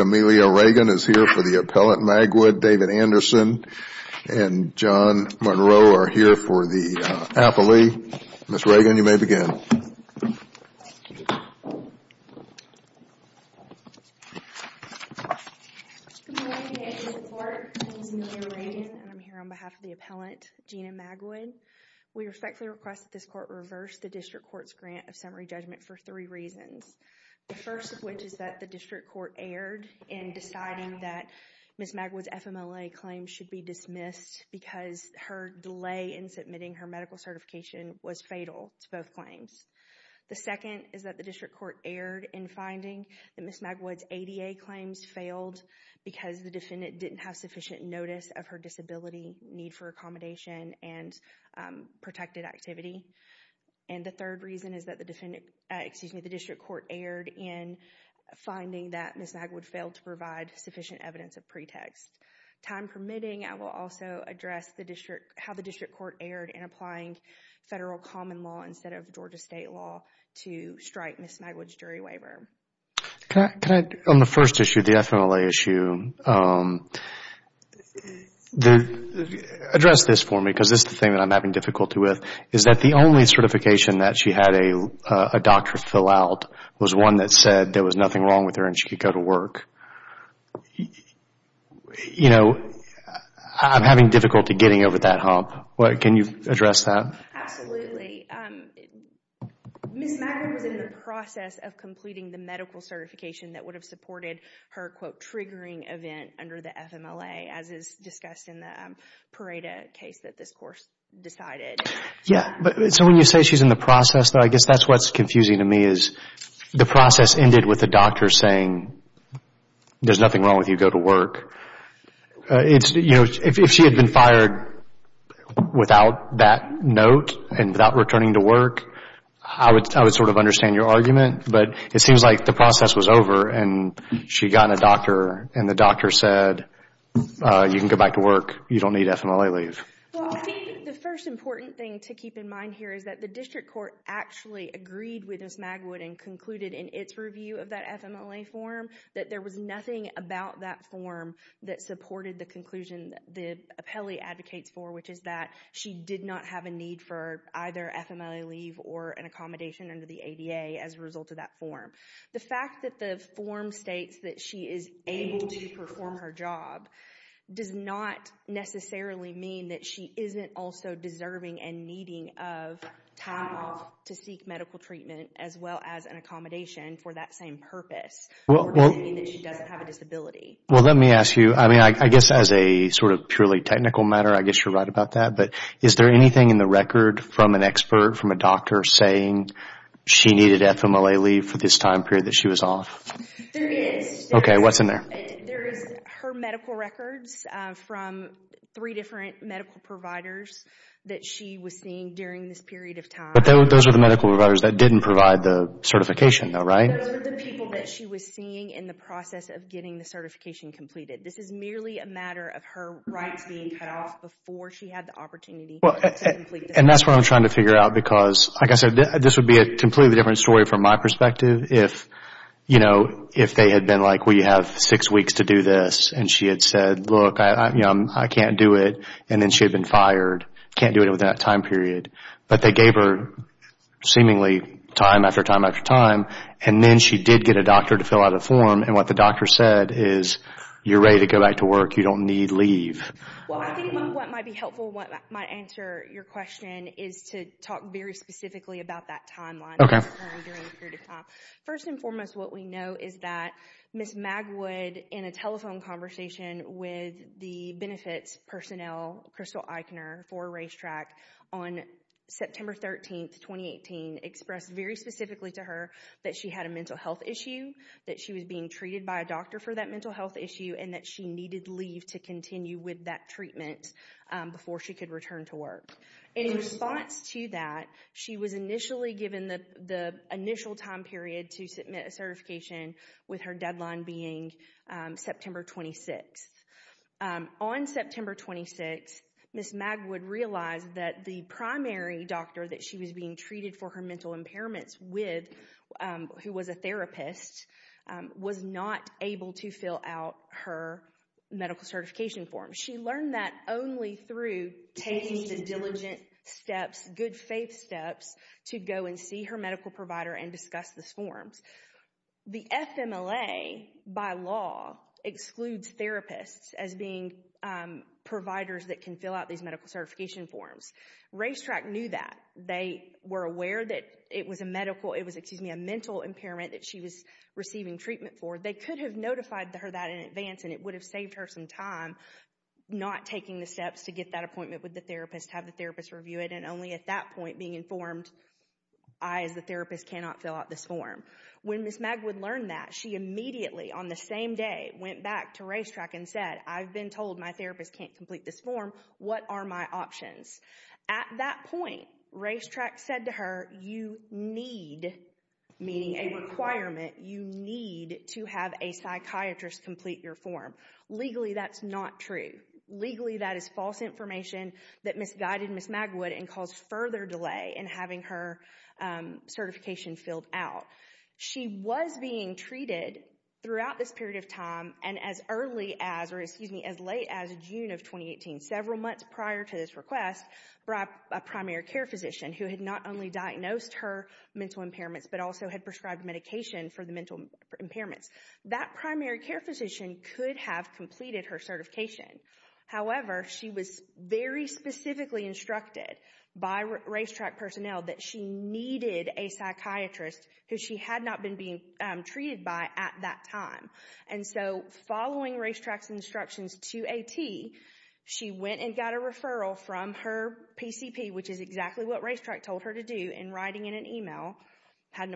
Amelia Regan is here for the appellant, David Anderson and John Monroe are here for the appellee. Ms. Regan, you may begin. Good morning, I'm here on behalf of the appellant, Gina Magwood. We respectfully request that this court reverse the district court's grant of summary judgment for three reasons. The first of which is that the district court erred in deciding that Ms. Magwood's FMLA claims should be dismissed because her delay in submitting her medical certification was fatal to both claims. The second is that the district court erred in finding that Ms. Magwood's ADA claims failed because the defendant didn't have sufficient notice of her disability, need for accommodation, and protected activity. And the third reason is that the district court erred in finding that Ms. Magwood failed to provide sufficient evidence of pretext. Time permitting, I will also address how the district court erred in applying federal common law instead of Georgia state law to strike Ms. Magwood's jury waiver. Can I, on the first issue, the FMLA issue, address this for me because this is the thing that I'm having difficulty with, is that the only certification that she had a doctor fill out was one that said there was nothing wrong with her and she could go to work. You know, I'm having difficulty getting over that hump. Can you address that? Absolutely. Ms. Magwood was in the process of completing the medical certification that would have supported her, quote, triggering event under the FMLA as is discussed in the Pareto case that this court decided. Yeah, but so when you say she's in the process, I guess that's what's confusing to me is the process ended with the doctor saying, there's nothing wrong with you, go to work. You know, if she had been fired without that note and without returning to work, I would sort of understand your argument, but it seems like the process was over and she got a doctor and the doctor said, you can go back to work, you don't need FMLA leave. Well, I think the first important thing to keep in mind here is that the district court actually agreed with Ms. Magwood and concluded in its review of that FMLA form that there was nothing about that form that supported the conclusion that the appellee advocates for, which is that she did not have a need for either FMLA leave or an accommodation under the ADA as a result of that form. The fact that the form states that she is able to perform her job does not necessarily mean that she isn't also deserving and needing of time off to seek medical treatment as well as an accommodation for that same purpose. It doesn't mean that she doesn't have a disability. Well, let me ask you, I mean, I guess as a sort of purely technical matter, I guess you're right about that, but is there anything in the record from an expert, from a doctor saying she needed FMLA leave for this time period that she was off? There is. Okay, what's in there? There is her medical records from three different medical providers that she was seeing during this period of time. But those are the medical providers that didn't provide the certification, though, right? Those are the people that she was seeing in the process of getting the certification completed. This is merely a matter of her rights being cut off before she had the opportunity to complete the certification. And that's what I'm trying to figure out because, like I said, this would be a completely different story from my perspective if, you know, if they had been like, well, you have six weeks to do this, and she had said, look, I can't do it, and then she had been fired, can't do it within that time period. But they gave her seemingly time after time after time, and then she did get a doctor to fill out a form, and what the doctor said is, you're ready to go back to work, you don't need leave. Well, I think what might be helpful, what might answer your question is to talk very briefly during this period of time. First and foremost, what we know is that Ms. Magwood, in a telephone conversation with the benefits personnel, Crystal Eichner for Racetrack, on September 13, 2018, expressed very specifically to her that she had a mental health issue, that she was being treated by a doctor for that mental health issue, and that she needed leave to continue with that treatment before she could return to work. In response to that, she was initially given the initial time period to submit a certification with her deadline being September 26. On September 26, Ms. Magwood realized that the primary doctor that she was being treated for her mental impairments with, who was a therapist, was not able to fill out her medical certification form. She learned that only through taking the diligent steps, good faith steps, to go and see her medical provider and discuss the forms. The FMLA, by law, excludes therapists as being providers that can fill out these medical certification forms. Racetrack knew that. They were aware that it was a mental impairment that she was receiving treatment for. They could have notified her that in advance, and it would have saved her some time not taking the steps to get that appointment with the therapist, have the therapist review it, and only at that point being informed, I, as the therapist, cannot fill out this form. When Ms. Magwood learned that, she immediately, on the same day, went back to Racetrack and said, I've been told my therapist can't complete this form. What are my options? At that point, Racetrack said to her, you need, meaning a requirement, you need to have a psychiatrist complete your form. Legally, that's not true. Legally, that is false information that misguided Ms. Magwood and caused further delay in having her certification filled out. She was being treated throughout this period of time, and as early as, or excuse me, as late as June of 2018, several months prior to this request, by a primary care physician who had not only diagnosed her mental impairments, but also had prescribed medication for the That primary care physician could have completed her certification. However, she was very specifically instructed by Racetrack personnel that she needed a psychiatrist who she had not been being treated by at that time. And so, following Racetrack's instructions to AT, she went and got a referral from her PCP, which is exactly what Racetrack told her to do, in writing in an email, had an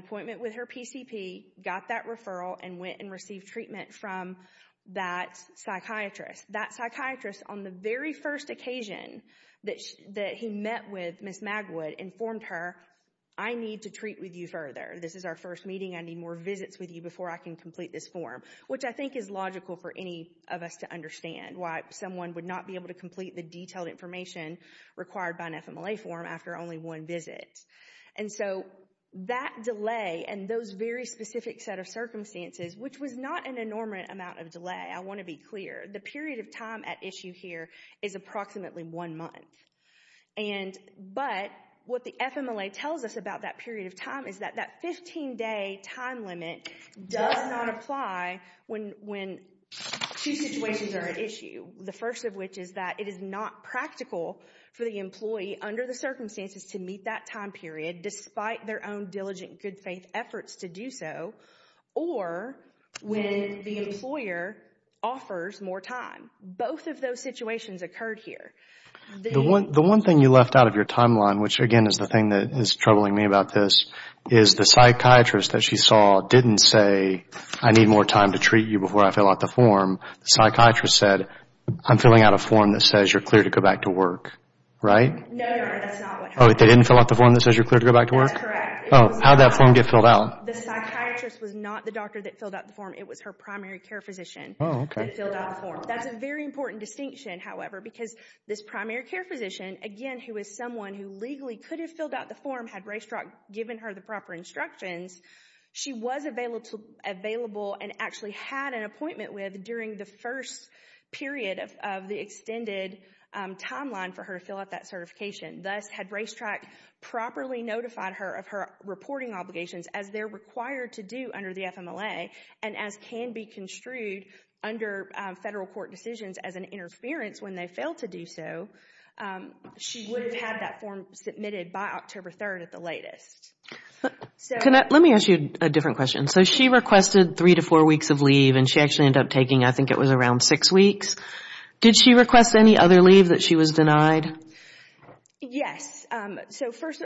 That psychiatrist, on the very first occasion that he met with Ms. Magwood, informed her, I need to treat with you further. This is our first meeting. I need more visits with you before I can complete this form. Which I think is logical for any of us to understand, why someone would not be able to complete the detailed information required by an FMLA form after only one visit. And so, that delay and those very specific set of circumstances, which was not an enormous amount of delay. I want to be clear. The period of time at issue here is approximately one month. And but, what the FMLA tells us about that period of time is that that 15 day time limit does not apply when two situations are at issue. The first of which is that it is not practical for the employee under the circumstances to complete that time period, despite their own diligent good faith efforts to do so. Or when the employer offers more time. Both of those situations occurred here. The one thing you left out of your timeline, which again is the thing that is troubling me about this, is the psychiatrist that she saw didn't say, I need more time to treat you before I fill out the form. The psychiatrist said, I'm filling out a form that says you're cleared to go back to work. Right? No, no. That's not what happened. Oh, they didn't fill out the form that says you're cleared to go back to work? That's correct. Oh, how'd that form get filled out? The psychiatrist was not the doctor that filled out the form. It was her primary care physician. Oh, okay. That filled out the form. That's a very important distinction, however, because this primary care physician, again, who is someone who legally could have filled out the form, had Raystrock given her the proper instructions, she was available and actually had an appointment with during the first period of the extended timeline for her to fill out that certification. Thus, had Raystrock properly notified her of her reporting obligations as they're required to do under the FMLA and as can be construed under federal court decisions as an interference when they fail to do so, she would have had that form submitted by October 3rd at the latest. Let me ask you a different question. She requested three to four weeks of leave and she actually ended up taking, I think around six weeks. Did she request any other leave that she was denied? Yes. First,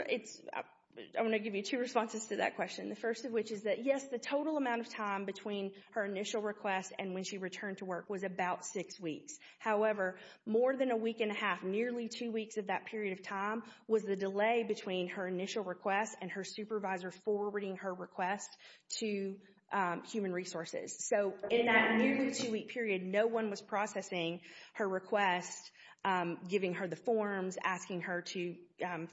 I'm going to give you two responses to that question. The first of which is that, yes, the total amount of time between her initial request and when she returned to work was about six weeks. However, more than a week and a half, nearly two weeks of that period of time, was the delay between her initial request and her supervisor forwarding her request to Human Resources. In that nearly two-week period, no one was processing her request, giving her the forms, asking her to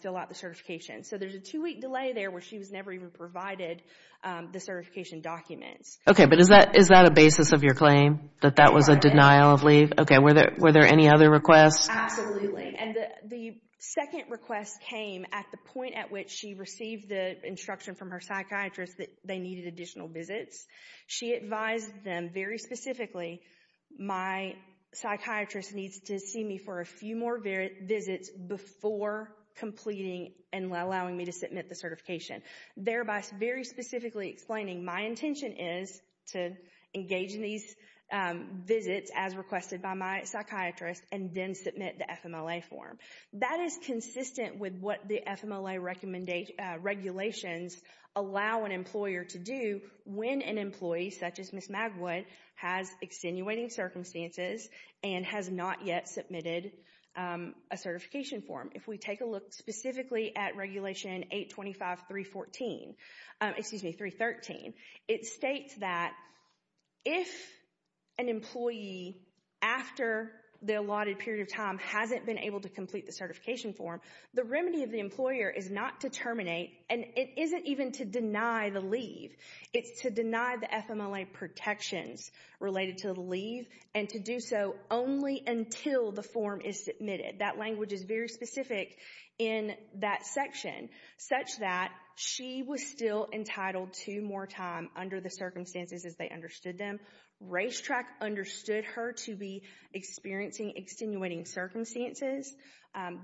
fill out the certification. There's a two-week delay there where she was never even provided the certification documents. Okay, but is that a basis of your claim, that that was a denial of leave? Were there any other requests? Absolutely. The second request came at the point at which she received the instruction from her psychiatrist that they needed additional visits. She advised them very specifically, my psychiatrist needs to see me for a few more visits before completing and allowing me to submit the certification, thereby very specifically explaining my intention is to engage in these visits as requested by my psychiatrist and then submit the FMLA form. That is consistent with what the FMLA regulations allow an employer to do when an employee, such as Ms. Magwood, has extenuating circumstances and has not yet submitted a certification form. If we take a look specifically at Regulation 825.314, excuse me, 313, it states that if an employee, after the allotted period of time, hasn't been able to complete the certification form, the remedy of the employer is not to terminate and it isn't even to deny the leave. It's to deny the FMLA protections related to the leave and to do so only until the form is submitted. That language is very specific in that section, such that she was still entitled to more time under the circumstances as they understood them. Racetrack understood her to be experiencing extenuating circumstances.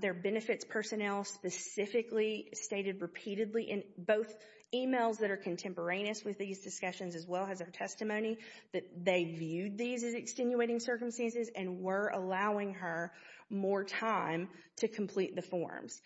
Their benefits personnel specifically stated repeatedly in both emails that are contemporaneous with these discussions as well as their testimony that they viewed these as extenuating circumstances and were allowing her more time to complete the forms.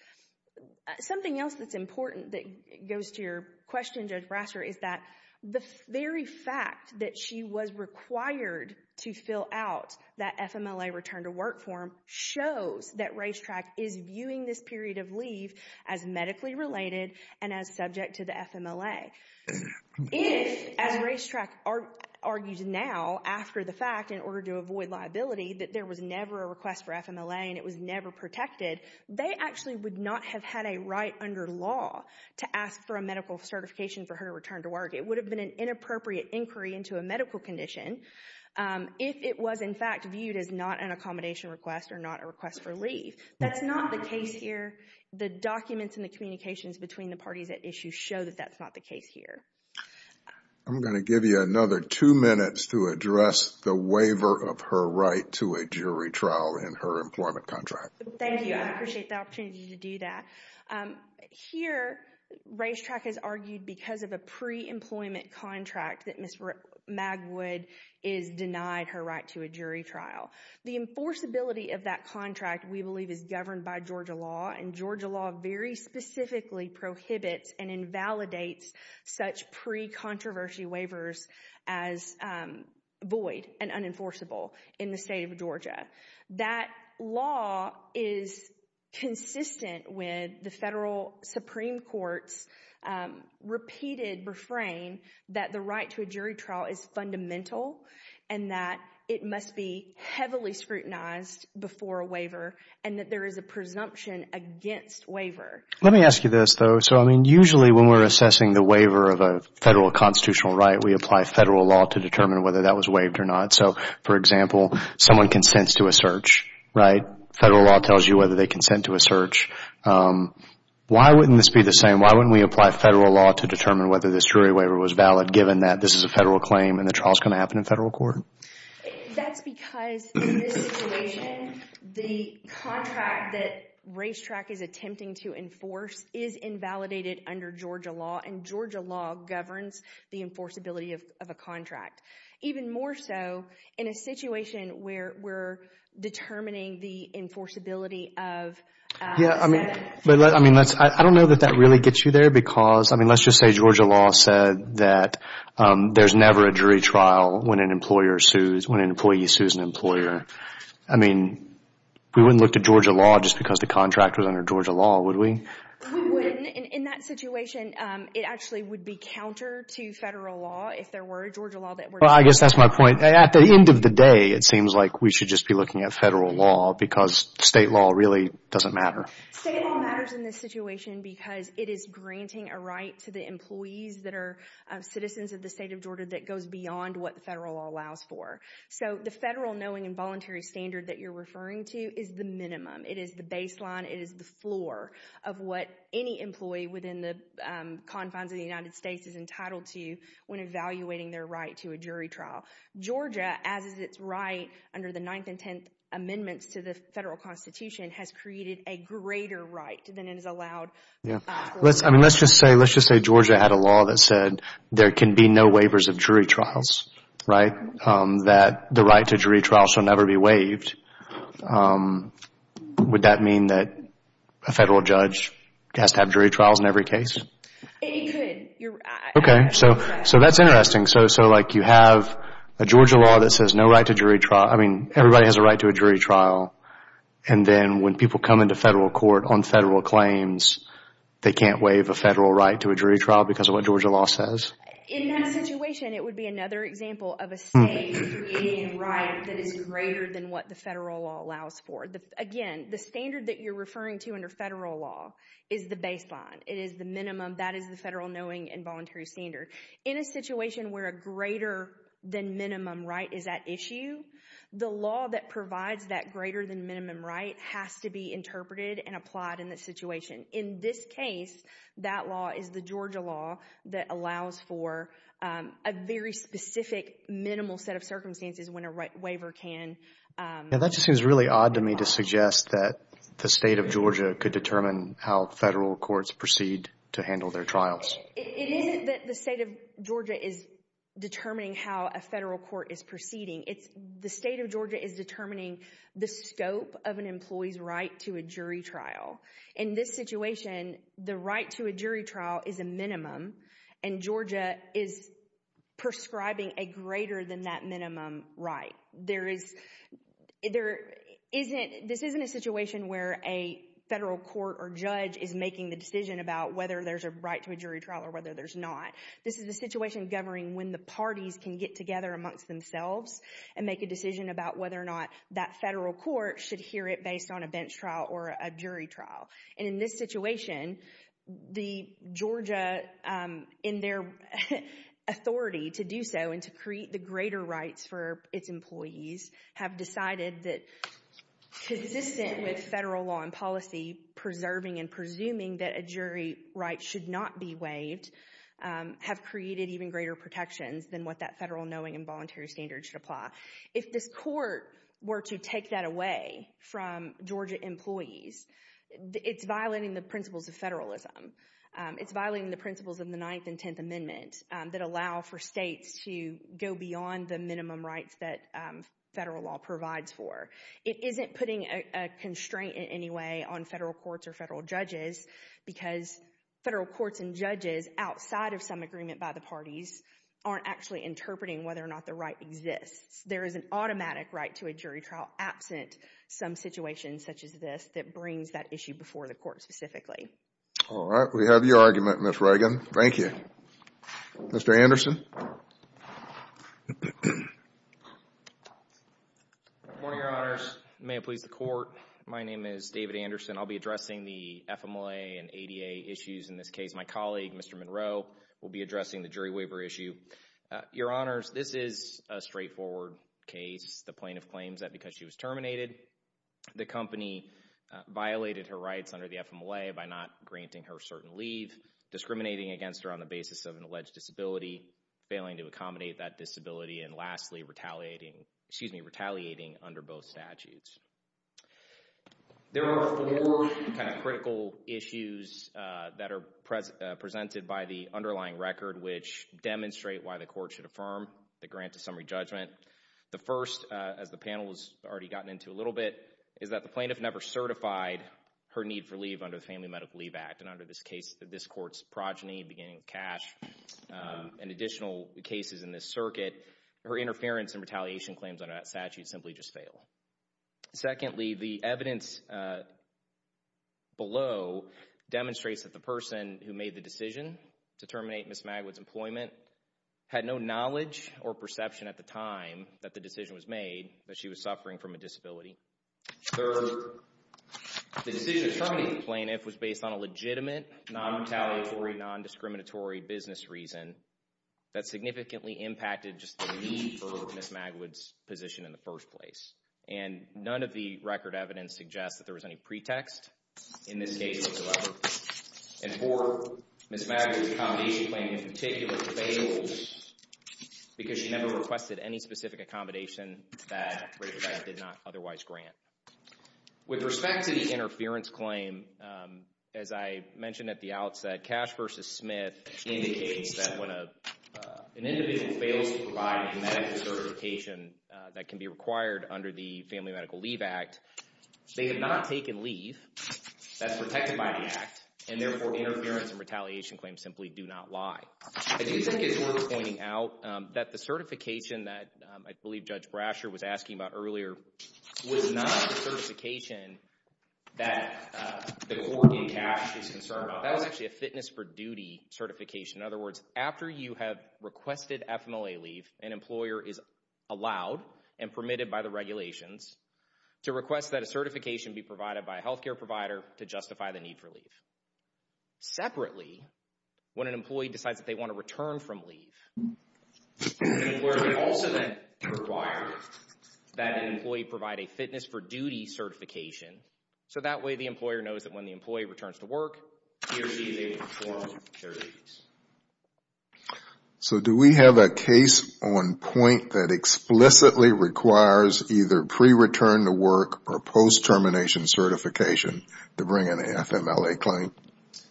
Something else that's important that goes to your question, Judge Brasser, is that the very fact that she was required to fill out that FMLA return to work form shows that Racetrack is viewing this period of leave as medically related and as subject to the FMLA. If, as Racetrack argues now, after the fact, in order to avoid liability, that there was would not have had a right under law to ask for a medical certification for her to return to work. It would have been an inappropriate inquiry into a medical condition if it was in fact viewed as not an accommodation request or not a request for leave. That's not the case here. The documents and the communications between the parties at issue show that that's not the case here. I'm going to give you another two minutes to address the waiver of her right to a jury trial in her employment contract. Thank you. I appreciate the opportunity to do that. Here Racetrack has argued because of a pre-employment contract that Ms. Magwood is denied her right to a jury trial. The enforceability of that contract, we believe, is governed by Georgia law, and Georgia law very specifically prohibits and invalidates such pre-controversy waivers as void and unenforceable in the state of Georgia. That law is consistent with the federal Supreme Court's repeated refrain that the right to a jury trial is fundamental and that it must be heavily scrutinized before a waiver and that there is a presumption against waiver. Let me ask you this though. So I mean usually when we're assessing the waiver of a federal constitutional right, we apply federal law to determine whether that was waived or not. So for example, someone consents to a search, right? Federal law tells you whether they consent to a search. Why wouldn't this be the same? Why wouldn't we apply federal law to determine whether this jury waiver was valid given that this is a federal claim and the trial is going to happen in federal court? That's because in this situation, the contract that Racetrack is attempting to enforce is invalidated under Georgia law and Georgia law governs the enforceability of a contract. Even more so in a situation where we're determining the enforceability of a statute. Yeah, I mean, I don't know that that really gets you there because, I mean, let's just say Georgia law said that there's never a jury trial when an employee sues an employer. I mean, we wouldn't look to Georgia law just because the contract was under Georgia law, would we? We wouldn't. In that situation, it actually would be counter to federal law if there were a Georgia law Well, I guess that's my point. At the end of the day, it seems like we should just be looking at federal law because state law really doesn't matter. State law matters in this situation because it is granting a right to the employees that are citizens of the state of Georgia that goes beyond what the federal law allows for. So the federal knowing and voluntary standard that you're referring to is the minimum. It is the baseline. It is the floor of what any employee within the confines of the United States is entitled to when evaluating their right to a jury trial. Georgia, as is its right under the Ninth and Tenth Amendments to the Federal Constitution, has created a greater right than it has allowed for other states. Yeah. Let's just say Georgia had a law that said there can be no waivers of jury trials, right? That the right to jury trial shall never be waived. Would that mean that a federal judge has to have jury trials in every case? It could. Okay. So that's interesting. So like you have a Georgia law that says no right to jury trial. I mean, everybody has a right to a jury trial, and then when people come into federal court on federal claims, they can't waive a federal right to a jury trial because of what Georgia law says? In that situation, it would be another example of a state creating a right that is greater than what the federal law allows for. Again, the standard that you're referring to under federal law is the baseline. It is the minimum. That is the federal knowing and voluntary standard. In a situation where a greater than minimum right is at issue, the law that provides that greater than minimum right has to be interpreted and applied in that situation. In this case, that law is the Georgia law that allows for a very specific minimal set of circumstances when a waiver can. Yeah. That just seems really odd to me to suggest that the state of Georgia could determine how federal courts proceed to handle their trials. It isn't that the state of Georgia is determining how a federal court is proceeding. The state of Georgia is determining the scope of an employee's right to a jury trial. In this situation, the right to a jury trial is a minimum, and Georgia is prescribing a greater than that minimum right. This isn't a situation where a federal court or judge is making the decision about whether there's a right to a jury trial or whether there's not. This is a situation governing when the parties can get together amongst themselves and make a decision about whether or not that federal court should hear it based on a bench trial or a jury trial. In this situation, Georgia, in their authority to do so and to create the greater rights for its employees, have decided that consistent with federal law and policy, preserving and presuming that a jury right should not be waived, have created even greater protections than what that federal knowing and voluntary standard should apply. If this court were to take that away from Georgia employees, it's violating the principles of federalism. It's violating the principles of the Ninth and Tenth Amendments that allow for states to go beyond the minimum rights that federal law provides for. It isn't putting a constraint in any way on federal courts or federal judges because federal courts and judges, outside of some agreement by the parties, aren't actually interpreting whether or not the right exists. There is an automatic right to a jury trial absent some situations such as this that brings that issue before the court specifically. All right. We have your argument, Ms. Reagan. Thank you. Mr. Anderson? Good morning, Your Honors. May it please the court. My name is David Anderson. I'll be addressing the FMLA and ADA issues in this case. My colleague, Mr. Monroe, will be addressing the jury waiver issue. Your Honors, this is a straightforward case. The plaintiff claims that because she was terminated, the company violated her rights under the FMLA by not granting her certain leave, discriminating against her on the basis of an alleged disability, failing to accommodate that disability, and lastly, retaliating under both statutes. There are four kind of critical issues that are presented by the underlying record which demonstrate why the court should affirm the grant to summary judgment. The first, as the panel has already gotten into a little bit, is that the plaintiff never certified her need for leave under the Family Medical Leave Act, and under this case, this and additional cases in this circuit, her interference and retaliation claims under that statute simply just fail. Secondly, the evidence below demonstrates that the person who made the decision to terminate Ms. Magwood's employment had no knowledge or perception at the time that the decision was made that she was suffering from a disability. Third, the decision to terminate the plaintiff was based on a legitimate, non-retaliatory, non-discriminatory business reason that significantly impacted just the need for Ms. Magwood's position in the first place, and none of the record evidence suggests that there was any pretext in this case whatsoever, and four, Ms. Magwood's accommodation claim in particular fails because she never requested any specific accommodation that RIT did not otherwise grant. With respect to the interference claim, as I mentioned at the outset, Cash v. Smith indicates that when an individual fails to provide medical certification that can be required under the Family Medical Leave Act, they have not taken leave that's protected by the act, and therefore interference and retaliation claims simply do not lie. I do think it's worth pointing out that the certification that I believe Judge Brasher was asking about earlier was not a certification that the court in Cash is concerned about. That was actually a fitness for duty certification. In other words, after you have requested FMLA leave, an employer is allowed and permitted by the regulations to request that a certification be provided by a health care provider to justify the need for leave. Separately, when an employee decides that they want to return from leave, the employer can also then require that an employee provide a fitness for duty certification, so that way the employer knows that when the employee returns to work, TRC is able to perform their duties. So do we have a case on point that explicitly requires either pre-return to work or post-termination certification to bring an FMLA claim?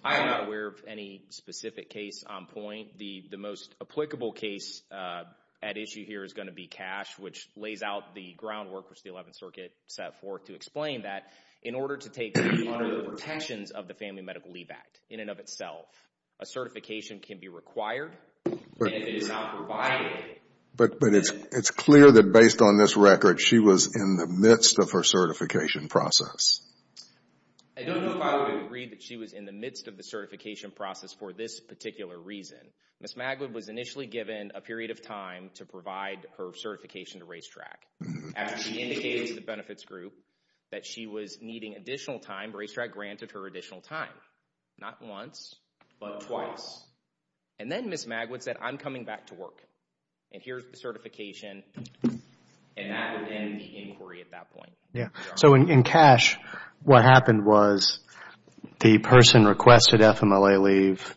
I am not aware of any specific case on point. I think the most applicable case at issue here is going to be Cash, which lays out the groundwork which the Eleventh Circuit set forth to explain that in order to take under the protections of the Family Medical Leave Act, in and of itself, a certification can be required, and if it is not provided... But it's clear that based on this record, she was in the midst of her certification process. I don't know if I would agree that she was in the midst of the certification process for this particular reason. Ms. Magwood was initially given a period of time to provide her certification to Racetrack. After she indicated to the benefits group that she was needing additional time, Racetrack granted her additional time. Not once, but twice. And then Ms. Magwood said, I'm coming back to work, and here's the certification, and that would end the inquiry at that point. In Cash, what happened was the person requested FMLA leave,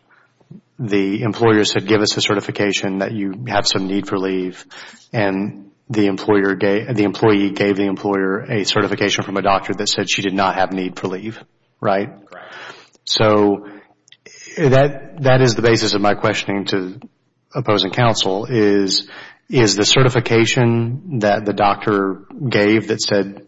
the employer said, give us a certification that you have some need for leave, and the employee gave the employer a certification from a doctor that said she did not have need for leave. That is the basis of my questioning to opposing counsel, is the certification that the doctor gave that said,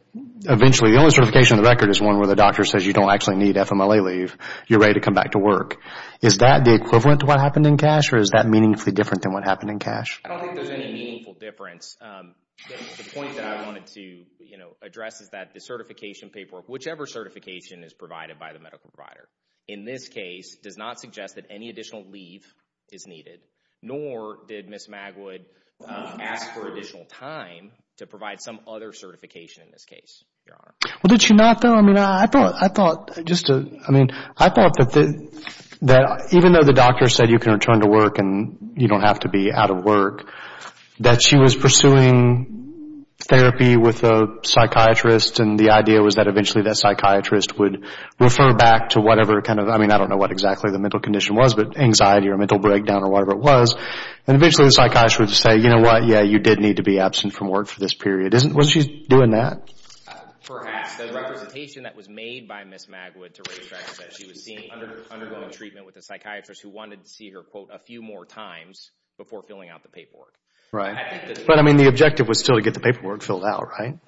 eventually, the only certification on the record is one where the doctor says you don't actually need FMLA leave, you're ready to come back to work. Is that the equivalent to what happened in Cash, or is that meaningfully different than what happened in Cash? I don't think there's any meaningful difference. The point that I wanted to, you know, address is that the certification paperwork, whichever certification is provided by the medical provider, in this case, does not suggest that any additional time to provide some other certification in this case, Your Honor. Well, did she not, though? I mean, I thought, just to, I mean, I thought that even though the doctor said you can return to work and you don't have to be out of work, that she was pursuing therapy with a psychiatrist, and the idea was that eventually that psychiatrist would refer back to whatever kind of, I mean, I don't know what exactly the mental condition was, but anxiety or mental breakdown or whatever it was, and eventually the psychiatrist would say, you know what, yeah, you did need to be absent from work for this period. Isn't, wasn't she doing that? Perhaps. The representation that was made by Ms. Magwood to Ray Streck was that she was seeing, undergoing treatment with a psychiatrist who wanted to see her, quote, a few more times before filling out the paperwork. Right. But, I mean, the objective was still to get the paperwork filled out, right?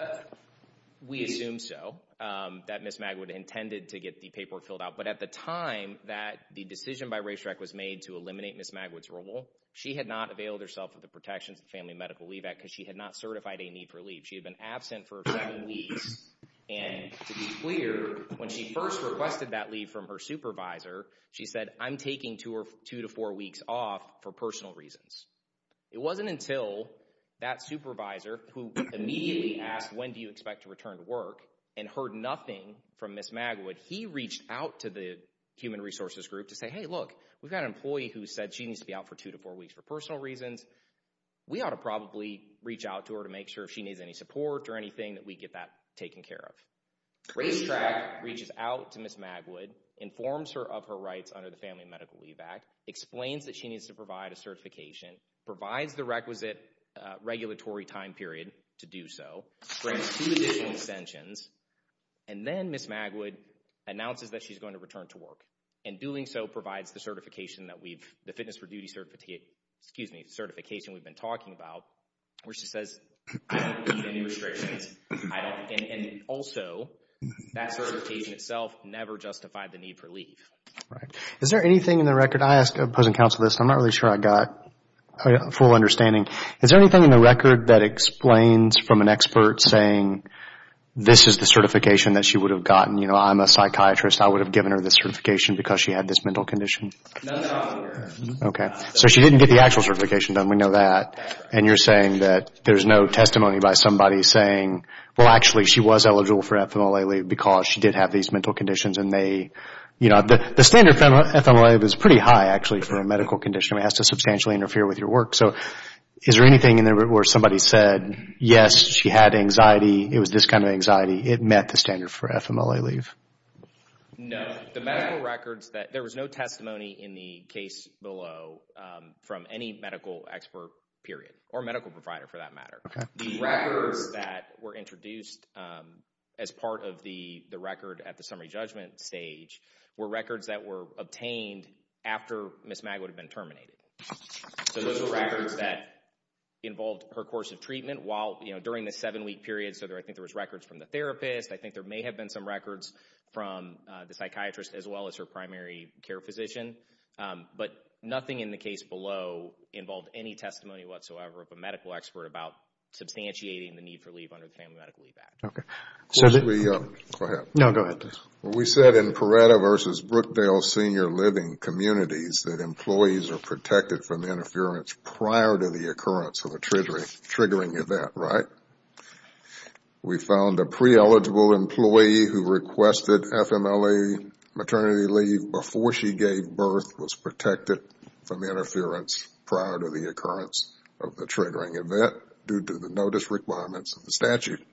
We assume so, that Ms. Magwood intended to get the paperwork filled out, but at the time that the decision by Ray Streck was made to eliminate Ms. Magwood's role, she had not availed herself of the protections of the Family Medical Leave Act because she had not certified a need for leave. She had been absent for seven weeks, and to be clear, when she first requested that leave from her supervisor, she said, I'm taking two to four weeks off for personal reasons. It wasn't until that supervisor, who immediately asked, when do you expect to return to work, and heard nothing from Ms. Magwood, he reached out to the human resources group to say, hey, look, we've got an employee who said she needs to be out for two to four weeks for personal reasons. We ought to probably reach out to her to make sure if she needs any support or anything that we get that taken care of. Ray Streck reaches out to Ms. Magwood, informs her of her rights under the Family Medical Leave Act, explains that she needs to provide a certification, provides the requisite regulatory time period to do so, grants two additional extensions, and then Ms. Magwood announces that she's going to return to work. In doing so, provides the certification that we've, the fitness for duty certification we've been talking about, where she says, I don't need any restrictions. And also, that certification itself never justified the need for leave. Is there anything in the record, I ask opposing counsel this, I'm not really sure I got a full understanding. Is there anything in the record that explains from an expert saying, this is the certification that she would have gotten. I'm a psychiatrist, I would have given her this certification because she had this mental condition. No, no. Okay. So she didn't get the actual certification done, we know that. And you're saying that there's no testimony by somebody saying, well, actually she was eligible for FMLA leave because she did have these mental conditions and they, you know, the standard FMLA leave is pretty high actually for a medical condition, it has to substantially interfere with your work. So is there anything in there where somebody said, yes, she had anxiety, it was this kind of anxiety, it met the standard for FMLA leave? No. The medical records that, there was no testimony in the case below from any medical expert period, or medical provider for that matter. The records that were introduced as part of the record at the summary judgment stage were records that were obtained after Ms. Magwood had been terminated. So those were records that involved her course of treatment while, you know, during the seven There were records from the therapist. I think there may have been some records from the psychiatrist as well as her primary care physician. But nothing in the case below involved any testimony whatsoever of a medical expert about substantiating the need for leave under the Family Medical Leave Act. Okay. So the... Go ahead. No, go ahead, please. We said in Peretta v. Brookdale Senior Living Communities that employees are protected from the interference prior to the occurrence of a triggering event, right? We found a pre-eligible employee who requested FMLA maternity leave before she gave birth was protected from the interference prior to the occurrence of the triggering event due to the notice requirements of the statute.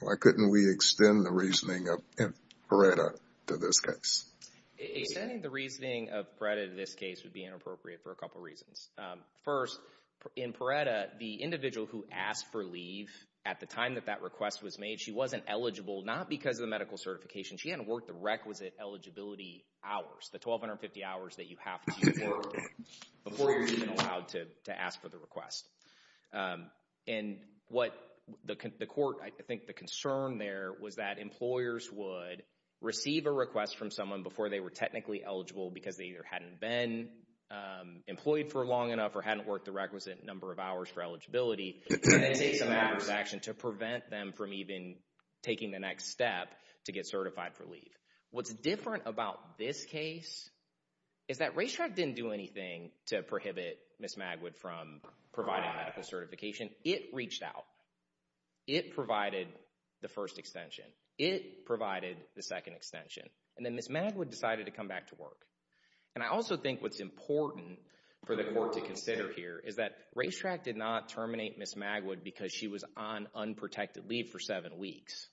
Why couldn't we extend the reasoning of Peretta to this case? Extending the reasoning of Peretta to this case would be inappropriate for a couple of reasons. First, in Peretta, the individual who asked for leave at the time that that request was made, she wasn't eligible, not because of the medical certification, she hadn't worked the requisite eligibility hours, the 1,250 hours that you have to work before you're even allowed to ask for the request. And what the court, I think the concern there was that employers would receive a request from someone before they were technically eligible because they either hadn't been employed for long enough or hadn't worked the requisite number of hours for eligibility and then take some active action to prevent them from even taking the next step to get certified for leave. What's different about this case is that Racetrack didn't do anything to prohibit Ms. Magwood from providing medical certification. It reached out. It provided the first extension. It provided the second extension. And then Ms. Magwood decided to come back to work. And I also think what's important for the court to consider here is that Racetrack did not terminate Ms. Magwood because she was on unprotected leave for seven weeks.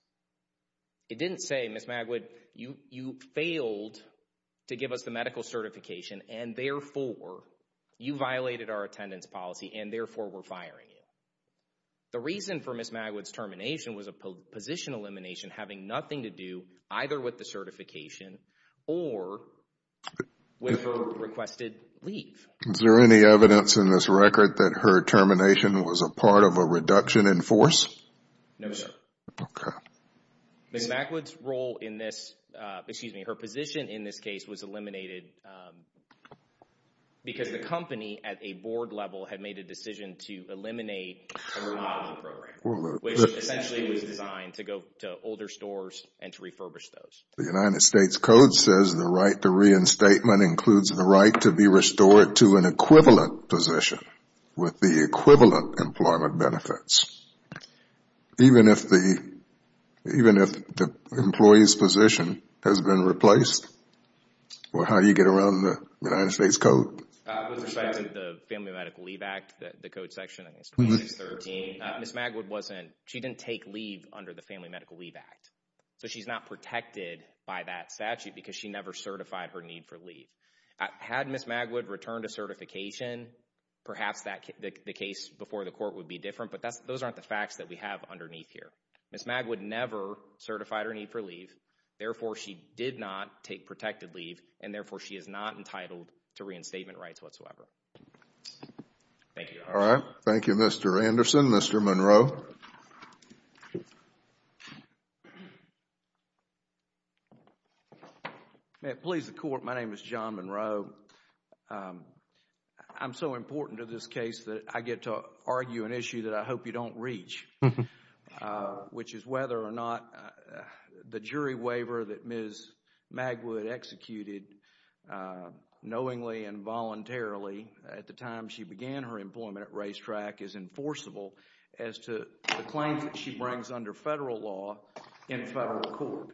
It didn't say, Ms. Magwood, you failed to give us the medical certification and therefore you violated our attendance policy and therefore we're firing you. The reason for Ms. Magwood's termination was a position elimination having nothing to do either with the certification or with her requested leave. Is there any evidence in this record that her termination was a part of a reduction in force? No, sir. Okay. Ms. Magwood's role in this, excuse me, her position in this case was eliminated because the company at a board level had made a decision to eliminate her modeling program, which essentially was designed to go to older stores and to refurbish those. The United States Code says the right to reinstatement includes the right to be restored to an equivalent position with the equivalent employment benefits. Even if the, even if the employee's position has been replaced, how do you get around the United States Code? With respect to the Family Medical Leave Act, the code section in this case is 13, Ms. Magwood wasn't, she didn't take leave under the Family Medical Leave Act, so she's not protected by that statute because she never certified her need for leave. Had Ms. Magwood returned to certification, perhaps that, the case before the court would be different, but that's, those aren't the facts that we have underneath here. Ms. Magwood never certified her need for leave, therefore she did not take protected leave and therefore she is not entitled to reinstatement rights whatsoever. Thank you. All right. Thank you, Mr. Anderson. Mr. Monroe. May it please the Court, my name is John Monroe. I'm so important to this case that I get to argue an issue that I hope you don't reach, which is whether or not the jury waiver that Ms. Magwood executed knowingly and voluntarily at the time she began her employment at Racetrack is enforceable as to the claims that she brings under federal law in a federal court.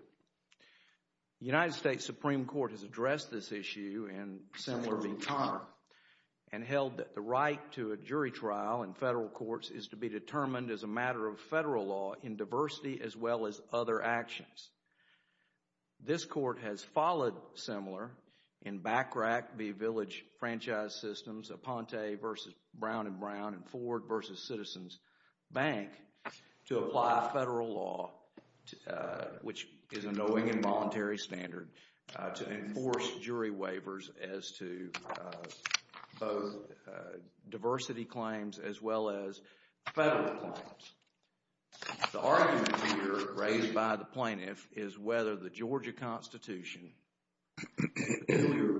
The United States Supreme Court has addressed this issue in similar v. Conner and held that the right to a jury trial in federal courts is to be determined as a matter of federal law in diversity as well as other actions. This Court has followed similar in BACRAC v. Village Franchise Systems, Aponte v. Brown and Brown, and Ford v. Citizens Bank to apply federal law, which is a knowing and voluntary standard to enforce jury waivers as to both diversity claims as well as federal claims. The argument here raised by the plaintiff is whether the Georgia Constitution, the earlier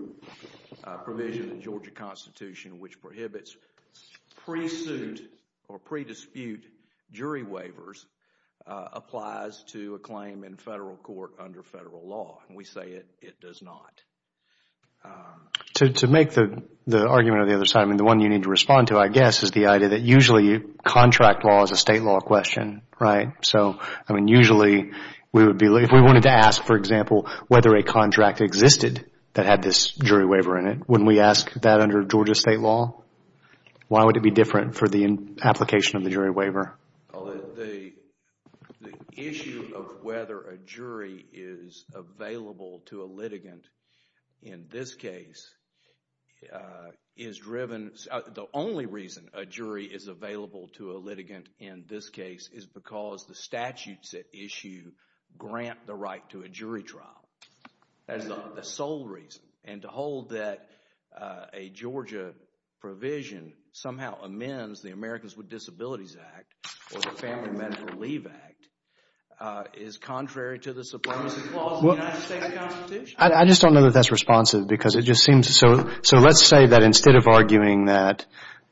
provision in the Georgia Constitution which prohibits pre-suit or pre-dispute jury waivers applies to a claim in federal court under federal law. We say it does not. To make the argument on the other side, the one you need to respond to, I guess, is the Georgia state law question, right? Usually, if we wanted to ask, for example, whether a contract existed that had this jury waiver in it, wouldn't we ask that under Georgia state law? Why would it be different for the application of the jury waiver? The issue of whether a jury is available to a litigant in this case is driven, the only reason a jury is available to a litigant in this case is because the statutes at issue grant the right to a jury trial. That is the sole reason. And to hold that a Georgia provision somehow amends the Americans with Disabilities Act or the Family Mental Relief Act is contrary to the supremacy clause in the United States Constitution. I just don't know that that's responsive because it just seems so, so let's say that instead of arguing that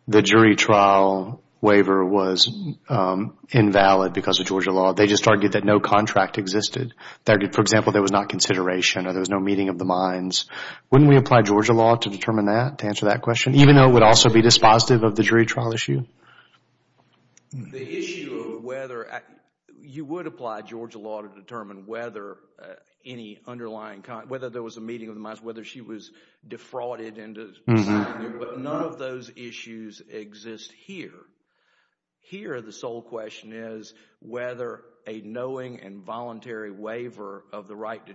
the jury trial waiver was invalid because of Georgia law, they just argued that no contract existed. For example, there was not consideration or there was no meeting of the minds, wouldn't we apply Georgia law to determine that, to answer that question, even though it would also be dispositive of the jury trial issue? You would apply Georgia law to determine whether there was a meeting of the minds, whether she was defrauded, but none of those issues exist here. Here the sole question is whether a knowing and voluntary waiver of the right to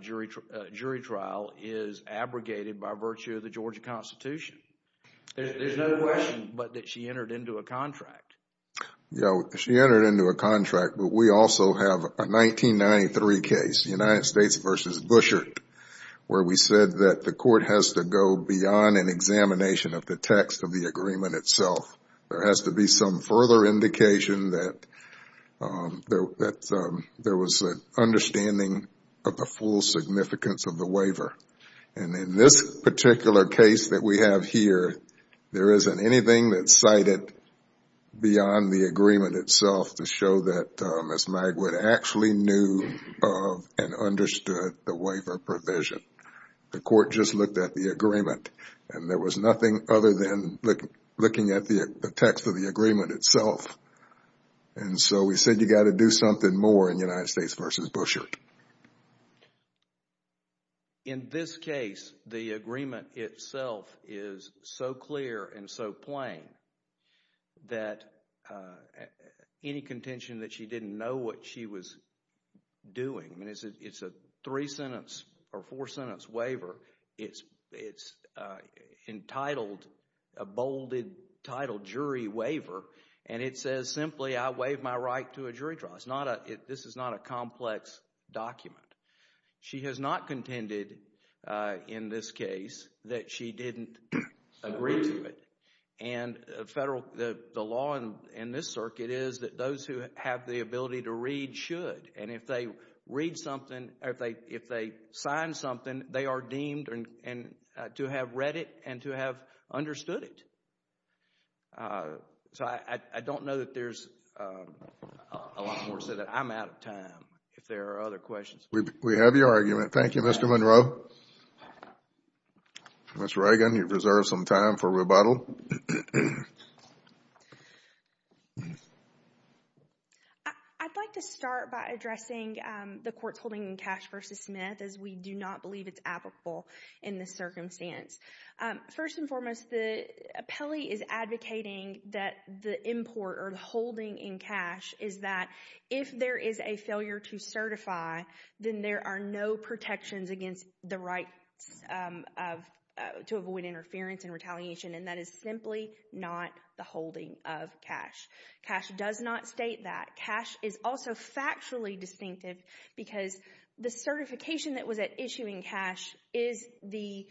jury trial is abrogated by virtue of the Georgia Constitution. There's no question but that she entered into a contract. She entered into a contract, but we also have a 1993 case, the United States versus Bushert, where we said that the court has to go beyond an examination of the text of the agreement itself. There has to be some further indication that there was an understanding of the full significance of the waiver. In this particular case that we have here, there isn't anything that's cited beyond the revision. The court just looked at the agreement and there was nothing other than looking at the text of the agreement itself, and so we said you got to do something more in the United States versus Bushert. In this case, the agreement itself is so clear and so plain that any contention that she or four-sentence waiver, it's entitled, a bolded title jury waiver, and it says simply I waive my right to a jury trial. This is not a complex document. She has not contended in this case that she didn't agree to it. The law in this circuit is that those who have the ability to read should, and if they read something, if they sign something, they are deemed to have read it and to have understood it. So I don't know that there's a lot more to say that I'm out of time if there are other questions. We have your argument. Thank you, Mr. Monroe. Ms. Reagan, you've reserved some time for rebuttal. I'd like to start by addressing the court's holding in Cash v. Smith, as we do not believe it's applicable in this circumstance. First and foremost, the appellee is advocating that the import or the holding in Cash is that if there is a failure to certify, then there are no protections against the right to avoid interference and retaliation, and that is simply not the holding of Cash. Cash does not state that. Cash is also factually distinctive because the certification that was at issue in Cash is the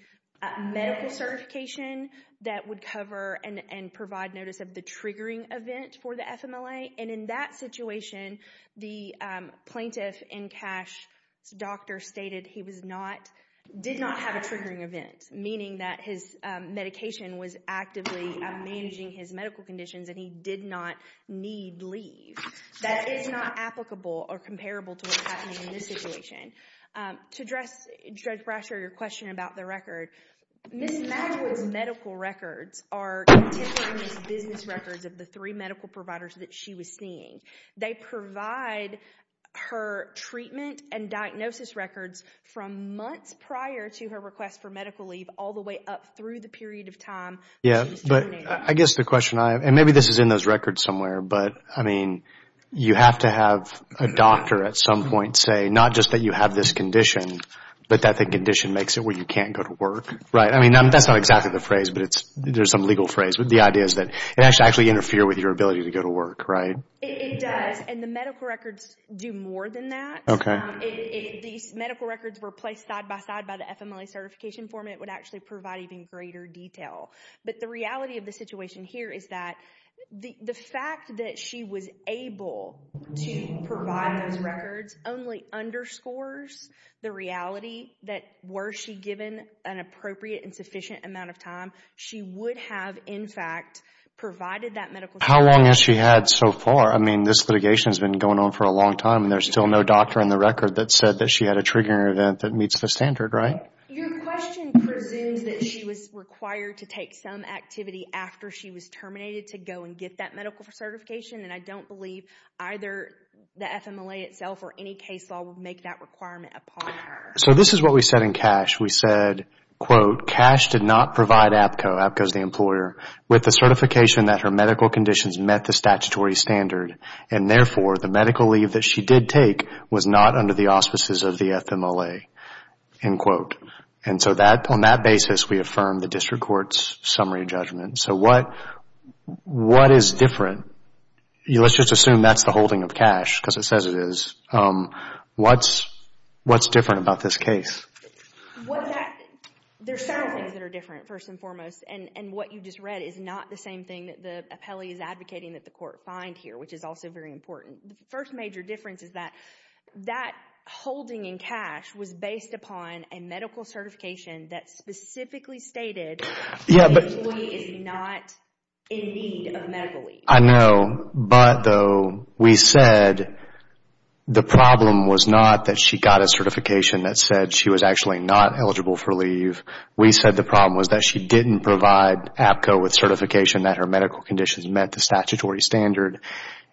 medical certification that would cover and provide notice of the triggering event for the FMLA, and in that situation, the plaintiff in Cash's doctor stated he did not have a triggering event, meaning that his medication was actively managing his medical conditions and he did not need leave. That is not applicable or comparable to what's happening in this situation. To address Judge Brasher, your question about the record, Ms. Mackwood's medical records are continuous business records of the three medical providers that she was seeing. They provide her treatment and diagnosis records from months prior to her request for medical leave all the way up through the period of time she was terminated. I guess the question I have, and maybe this is in those records somewhere, but you have to have a doctor at some point say not just that you have this condition, but that the condition makes it where you can't go to work. That's not exactly the phrase, but there's some legal phrase. The idea is that it has to actually interfere with your ability to go to work, right? It does, and the medical records do more than that. Okay. If these medical records were placed side by side by the FMLA certification form, it would actually provide even greater detail. But the reality of the situation here is that the fact that she was able to provide those records only underscores the reality that were she given an appropriate and sufficient amount of time, she would have, in fact, provided that medical... How long has she had so far? I mean, this litigation has been going on for a long time, and there's still no doctor in the record that said that she had a triggering event that meets the standard, right? Your question presumes that she was required to take some activity after she was terminated to go and get that medical certification, and I don't believe either the FMLA itself or any case law would make that requirement upon her. So this is what we said in CASH. We said, quote, CASH did not provide APCO, APCO is the employer, with the certification that her medical conditions met the statutory standard, and therefore, the medical leave that she did take was not under the auspices of the FMLA, end quote. And so on that basis, we affirmed the district court's summary judgment. So what is different? Let's just assume that's the holding of CASH, because it says it is. What's different about this case? There are several things that are different, first and foremost, and what you just read is not the same thing that the appellee is advocating that the court find here, which is also very important. The first major difference is that that holding in CASH was based upon a medical certification that specifically stated the employee is not in need of medical leave. I know, but though we said the problem was not that she got a certification that said she was actually not eligible for leave. We said the problem was that she didn't provide APCO with certification that her medical conditions met the statutory standard,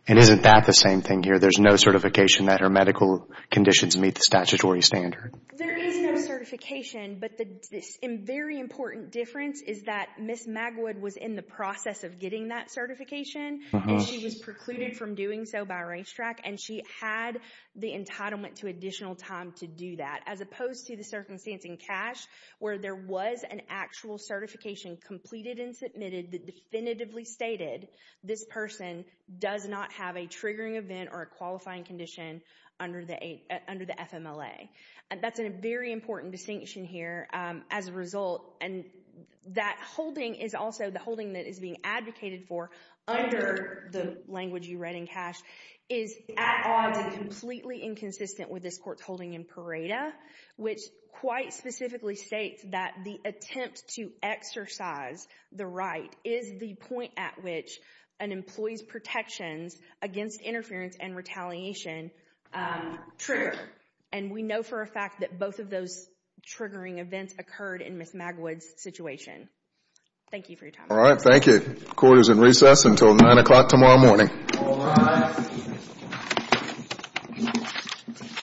and isn't that the same thing here? There's no certification that her medical conditions meet the statutory standard. There is no certification, but the very important difference is that Ms. Magwood was in the process of getting that certification, and she was precluded from doing so by racetrack, and she had the entitlement to additional time to do that, as opposed to the circumstance in CASH, where there was an actual certification completed and submitted that definitively stated this person does not have a triggering event or a qualifying condition under the FMLA. That's a very important distinction here as a result, and that holding is also the holding that is being advocated for under the language you read in CASH is at odds and completely inconsistent with this Court's holding in PARADA, which quite specifically states that the attempt to exercise the right is the point at which an employee's protections against interference and retaliation trigger, and we know for a fact that both of those triggering events occurred in Ms. Magwood's situation. Thank you for your time. All right. Thank you. Court is in recess until 9 o'clock tomorrow morning. All rise. The case is submitted.